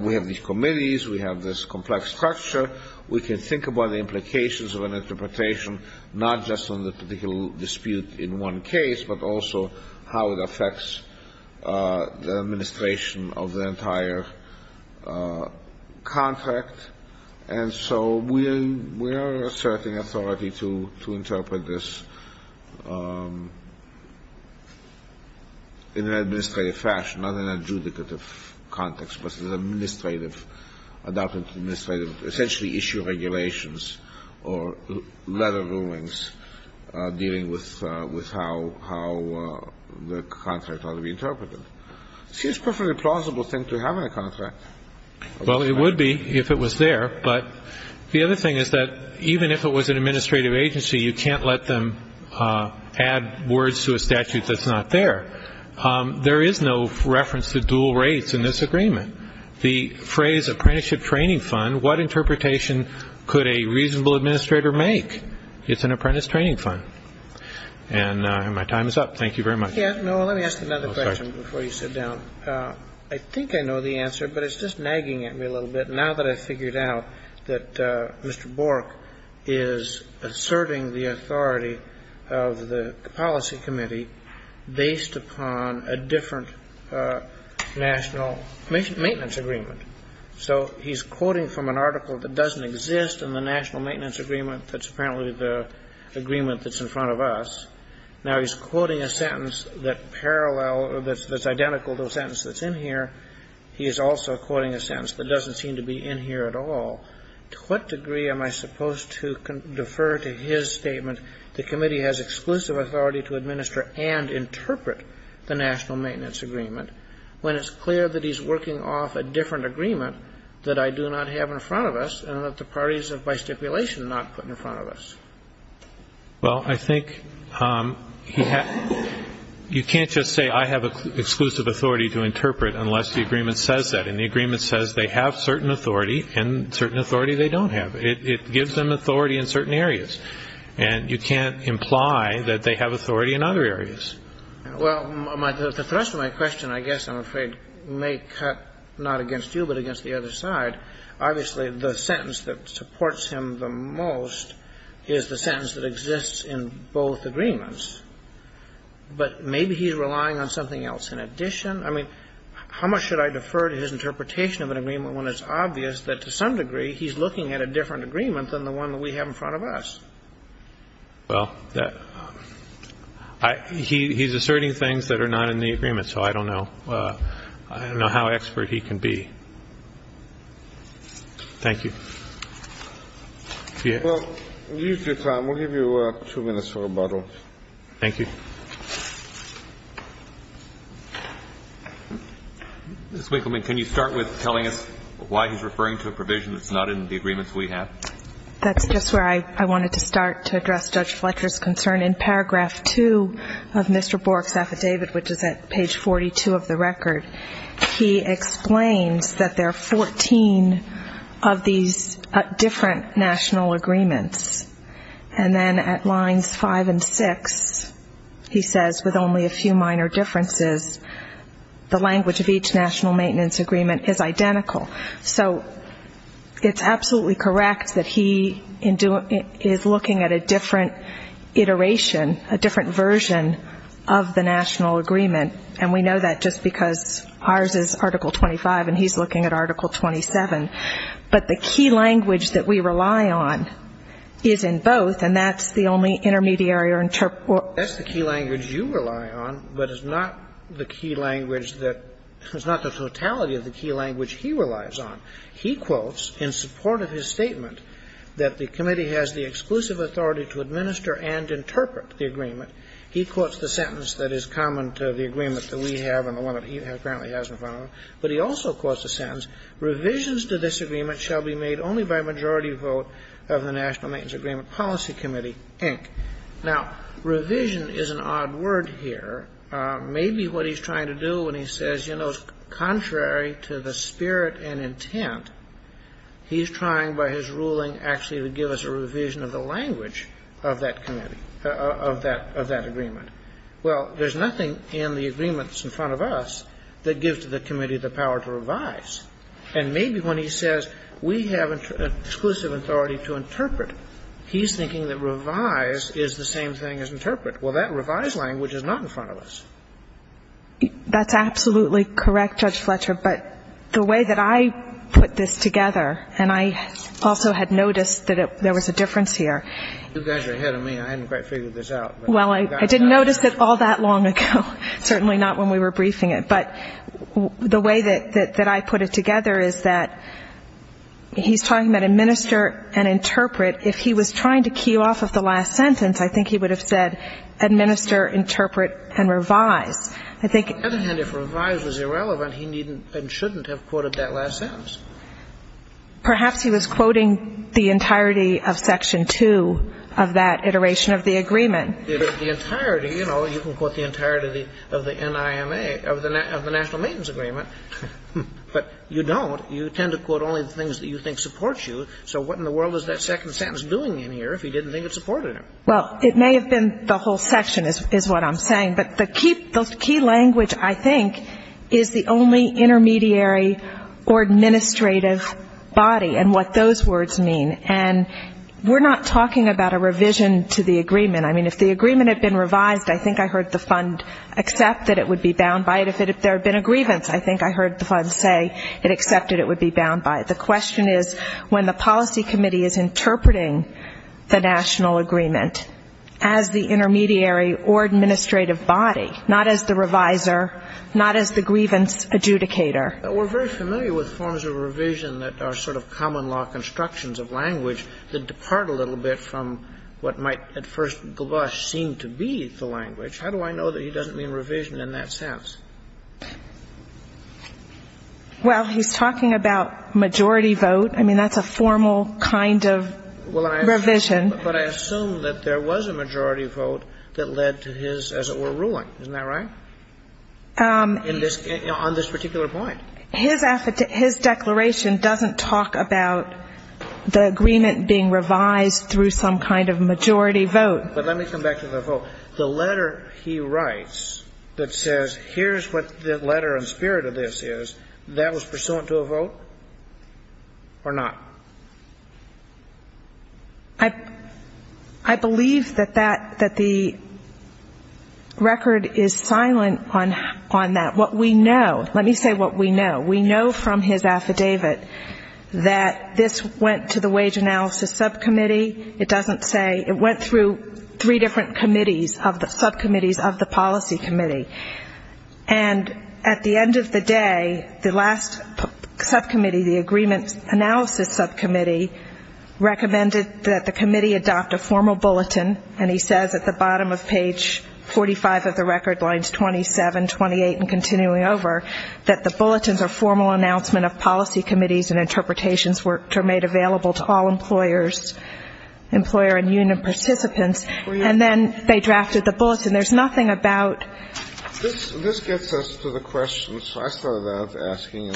We have these committees. We have this complex structure. We can think about the implications of an interpretation, not just on the particular dispute in one case, but also how it affects the administration of the entire contract. And so we are asserting authority to interpret this in an administrative fashion, not in an adjudicative context, but as an administrative – adopted administrative – essentially issue regulations or letter rulings dealing with how the contract ought to be interpreted. It seems a perfectly plausible thing to have in a contract. Well, it would be if it was there. But the other thing is that even if it was an administrative agency, you can't let them add words to a statute that's not there. There is no reference to dual rates in this agreement. The phrase apprenticeship training fund, what interpretation could a reasonable administrator make? It's an apprentice training fund. And my time is up. Thank you very much. Yeah. No, let me ask another question before you sit down. I think I know the answer, but it's just nagging at me a little bit. Now that I've figured out that Mr. Bork is asserting the authority of the policy committee based upon a different national maintenance agreement. So he's quoting from an article that doesn't exist in the national maintenance agreement that's apparently the agreement that's in front of us. Now he's quoting a sentence that parallel or that's identical to a sentence that's in here. He is also quoting a sentence that doesn't seem to be in here at all. To what degree am I supposed to defer to his statement, the committee has exclusive authority to administer and interpret the national maintenance agreement, when it's clear that he's working off a different agreement that I do not have in front of us and that the parties have by stipulation not put in front of us? Well, I think you can't just say I have exclusive authority to interpret unless the agreement says that. And the agreement says they have certain authority and certain authority they don't have. It gives them authority in certain areas. And you can't imply that they have authority in other areas. Well, the thrust of my question, I guess I'm afraid, may cut not against you, but against the other side. Obviously, the sentence that supports him the most is the sentence that exists in both agreements. But maybe he's relying on something else in addition. I mean, how much should I defer to his interpretation of an agreement when it's obvious that to some degree he's looking at a different agreement than the one that we have in front of us? Well, he's asserting things that are not in the agreement. So I don't know. I don't know how expert he can be. Thank you. Well, you used your time. We'll give you two minutes for rebuttal. Thank you. Ms. Winkleman, can you start with telling us why he's referring to a provision that's not in the agreements we have? That's just where I wanted to start to address Judge Fletcher's concern. In paragraph 2 of Mr. Bork's affidavit, which is at page 42 of the record, he explains that there are 14 of these different national agreements. And then at lines 5 and 6, he says, with only a few minor differences, the language of each national maintenance agreement is identical. So it's absolutely correct that he is looking at a different iteration, a different version of the national agreement. And we know that just because ours is Article 25, and he's looking at Article 27. But the key language that we rely on is in both, and that's the only intermediary or interpreter. That's the key language you rely on, but it's not the key language that – it's not the totality of the key language he relies on. He quotes, in support of his statement that the committee has the exclusive authority to administer and interpret the agreement, he quotes the sentence that is common to the agreement that we have and the one that he apparently has in front of him, but he also quotes the sentence, Revisions to this agreement shall be made only by majority vote of the National Maintenance Agreement Policy Committee, Inc. Now, revision is an odd word here. Maybe what he's trying to do when he says, you know, contrary to the spirit and intent, he's trying by his ruling actually to give us a revision of the language of that committee, of that agreement. Well, there's nothing in the agreement that's in front of us that gives to the committee the power to revise. And maybe when he says we have exclusive authority to interpret, he's thinking that revise is the same thing as interpret. Well, that revise language is not in front of us. That's absolutely correct, Judge Fletcher, but the way that I put this together, and I also had noticed that there was a difference here. You guys are ahead of me. I hadn't quite figured this out. Well, I didn't notice it all that long ago. Certainly not when we were briefing it. But the way that I put it together is that he's talking about administer and interpret. If he was trying to key off of the last sentence, I think he would have said administer, interpret, and revise. I think he didn't. On the other hand, if revise was irrelevant, he needn't and shouldn't have quoted that last sentence. Perhaps he was quoting the entirety of Section 2 of that iteration of the agreement. The entirety, you know, you can quote the entirety of the NIMA, of the National Maintenance Agreement. But you don't. You tend to quote only the things that you think support you. So what in the world is that second sentence doing in here if he didn't think it supported him? Well, it may have been the whole section is what I'm saying. But the key language, I think, is the only intermediary or administrative body and what those words mean. And we're not talking about a revision to the agreement. I mean, if the agreement had been revised, I think I heard the fund accept that it would be bound by it. If there had been a grievance, I think I heard the fund say it accepted it would be bound by it. The question is when the policy committee is interpreting the national agreement as the intermediary or administrative body, not as the reviser, not as the grievance adjudicator. We're very familiar with forms of revision that are sort of common law constructions of language that depart a little bit from what might at first blush seem to be the language. How do I know that he doesn't mean revision in that sense? Well, he's talking about majority vote. I mean, that's a formal kind of revision. But I assume that there was a majority vote that led to his, as it were, ruling. Isn't that right? On this particular point. His declaration doesn't talk about the agreement being revised through some kind of majority vote. But let me come back to the vote. The letter he writes that says here's what the letter and spirit of this is, that was pursuant to a vote or not? I believe that the record is silent on that. Let me say what we know. We know from his affidavit that this went to the Wage Analysis Subcommittee. It doesn't say. It went through three different subcommittees of the Policy Committee. And at the end of the day, the last subcommittee, the Agreement Analysis Subcommittee, recommended that the committee adopt a formal bulletin. And he says at the bottom of page 45 of the record, lines 27, 28, and continuing over, that the bulletins are formal announcement of policy committees and interpretations which are made available to all employer and union participants. And then they drafted the bulletin. There's nothing about. This gets us to the question. So I started out asking,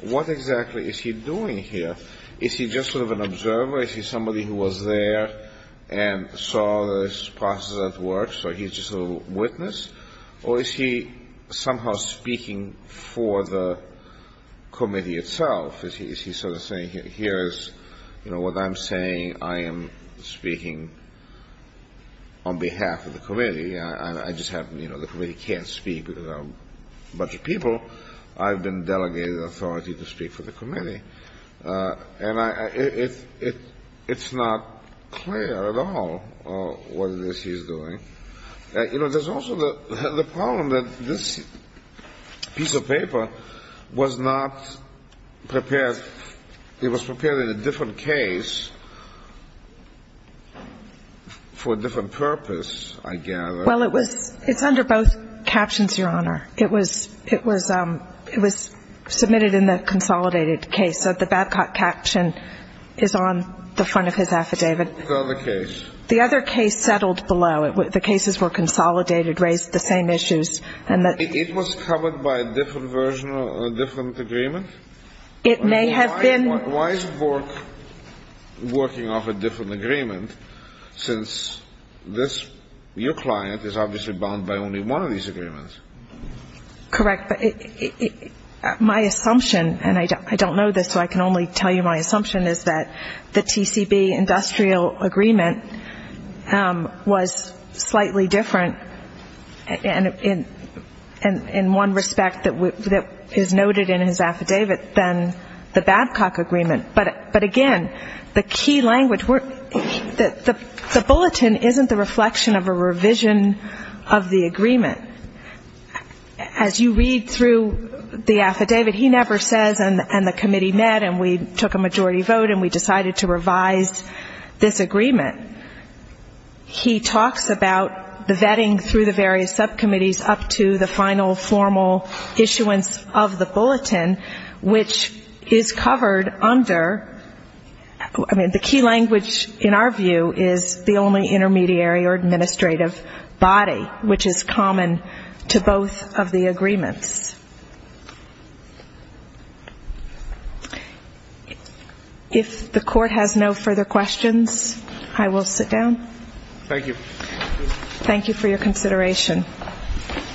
what exactly is he doing here? Is he just sort of an observer? Is he somebody who was there? And saw this process at work, so he's just a little witness? Or is he somehow speaking for the committee itself? Is he sort of saying, here's, you know, what I'm saying. I am speaking on behalf of the committee. I just have, you know, the committee can't speak without a bunch of people. And it's not clear at all what it is he's doing. You know, there's also the problem that this piece of paper was not prepared. It was prepared in a different case for a different purpose, I gather. Well, it was. It's under both captions, Your Honor. It was submitted in the consolidated case. So the Babcock caption is on the front of his affidavit. The other case. The other case settled below. The cases were consolidated, raised the same issues. And it was covered by a different version of a different agreement? It may have been. Why is Vork working off a different agreement? Since your client is obviously bound by only one of these agreements. Correct. My assumption, and I don't know this, so I can only tell you my assumption, is that the TCB industrial agreement was slightly different in one respect that is noted in his affidavit than the Babcock agreement. But again, the key language, the bulletin isn't the reflection of a revision of the agreement. As you read through the affidavit, he never says, and the committee met, and we took a majority vote, and we decided to revise this agreement. He talks about the vetting through the various subcommittees up to the final formal issuance of the bulletin, which is covered under, I mean, the key language in our view is the only intermediary or administrative body, which is common to both of the agreements. If the court has no further questions, I will sit down. Thank you. Thank you for your consideration.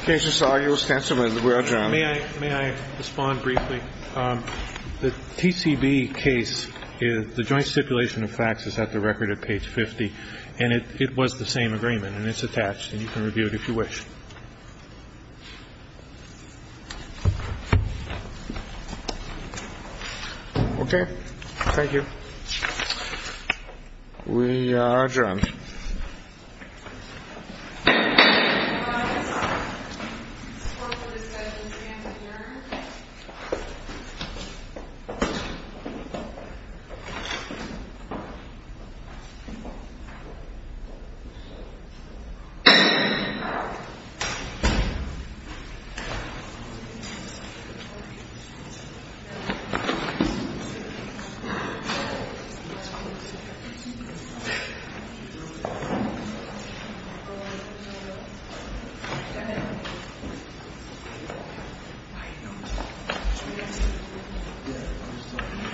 Case resolution, we are adjourned. May I respond briefly? The TCB case, the joint stipulation of facts is at the record at page 50, and it was the same agreement, and it's attached, and you can review it if you wish. Okay, thank you. We are adjourned. Thank you.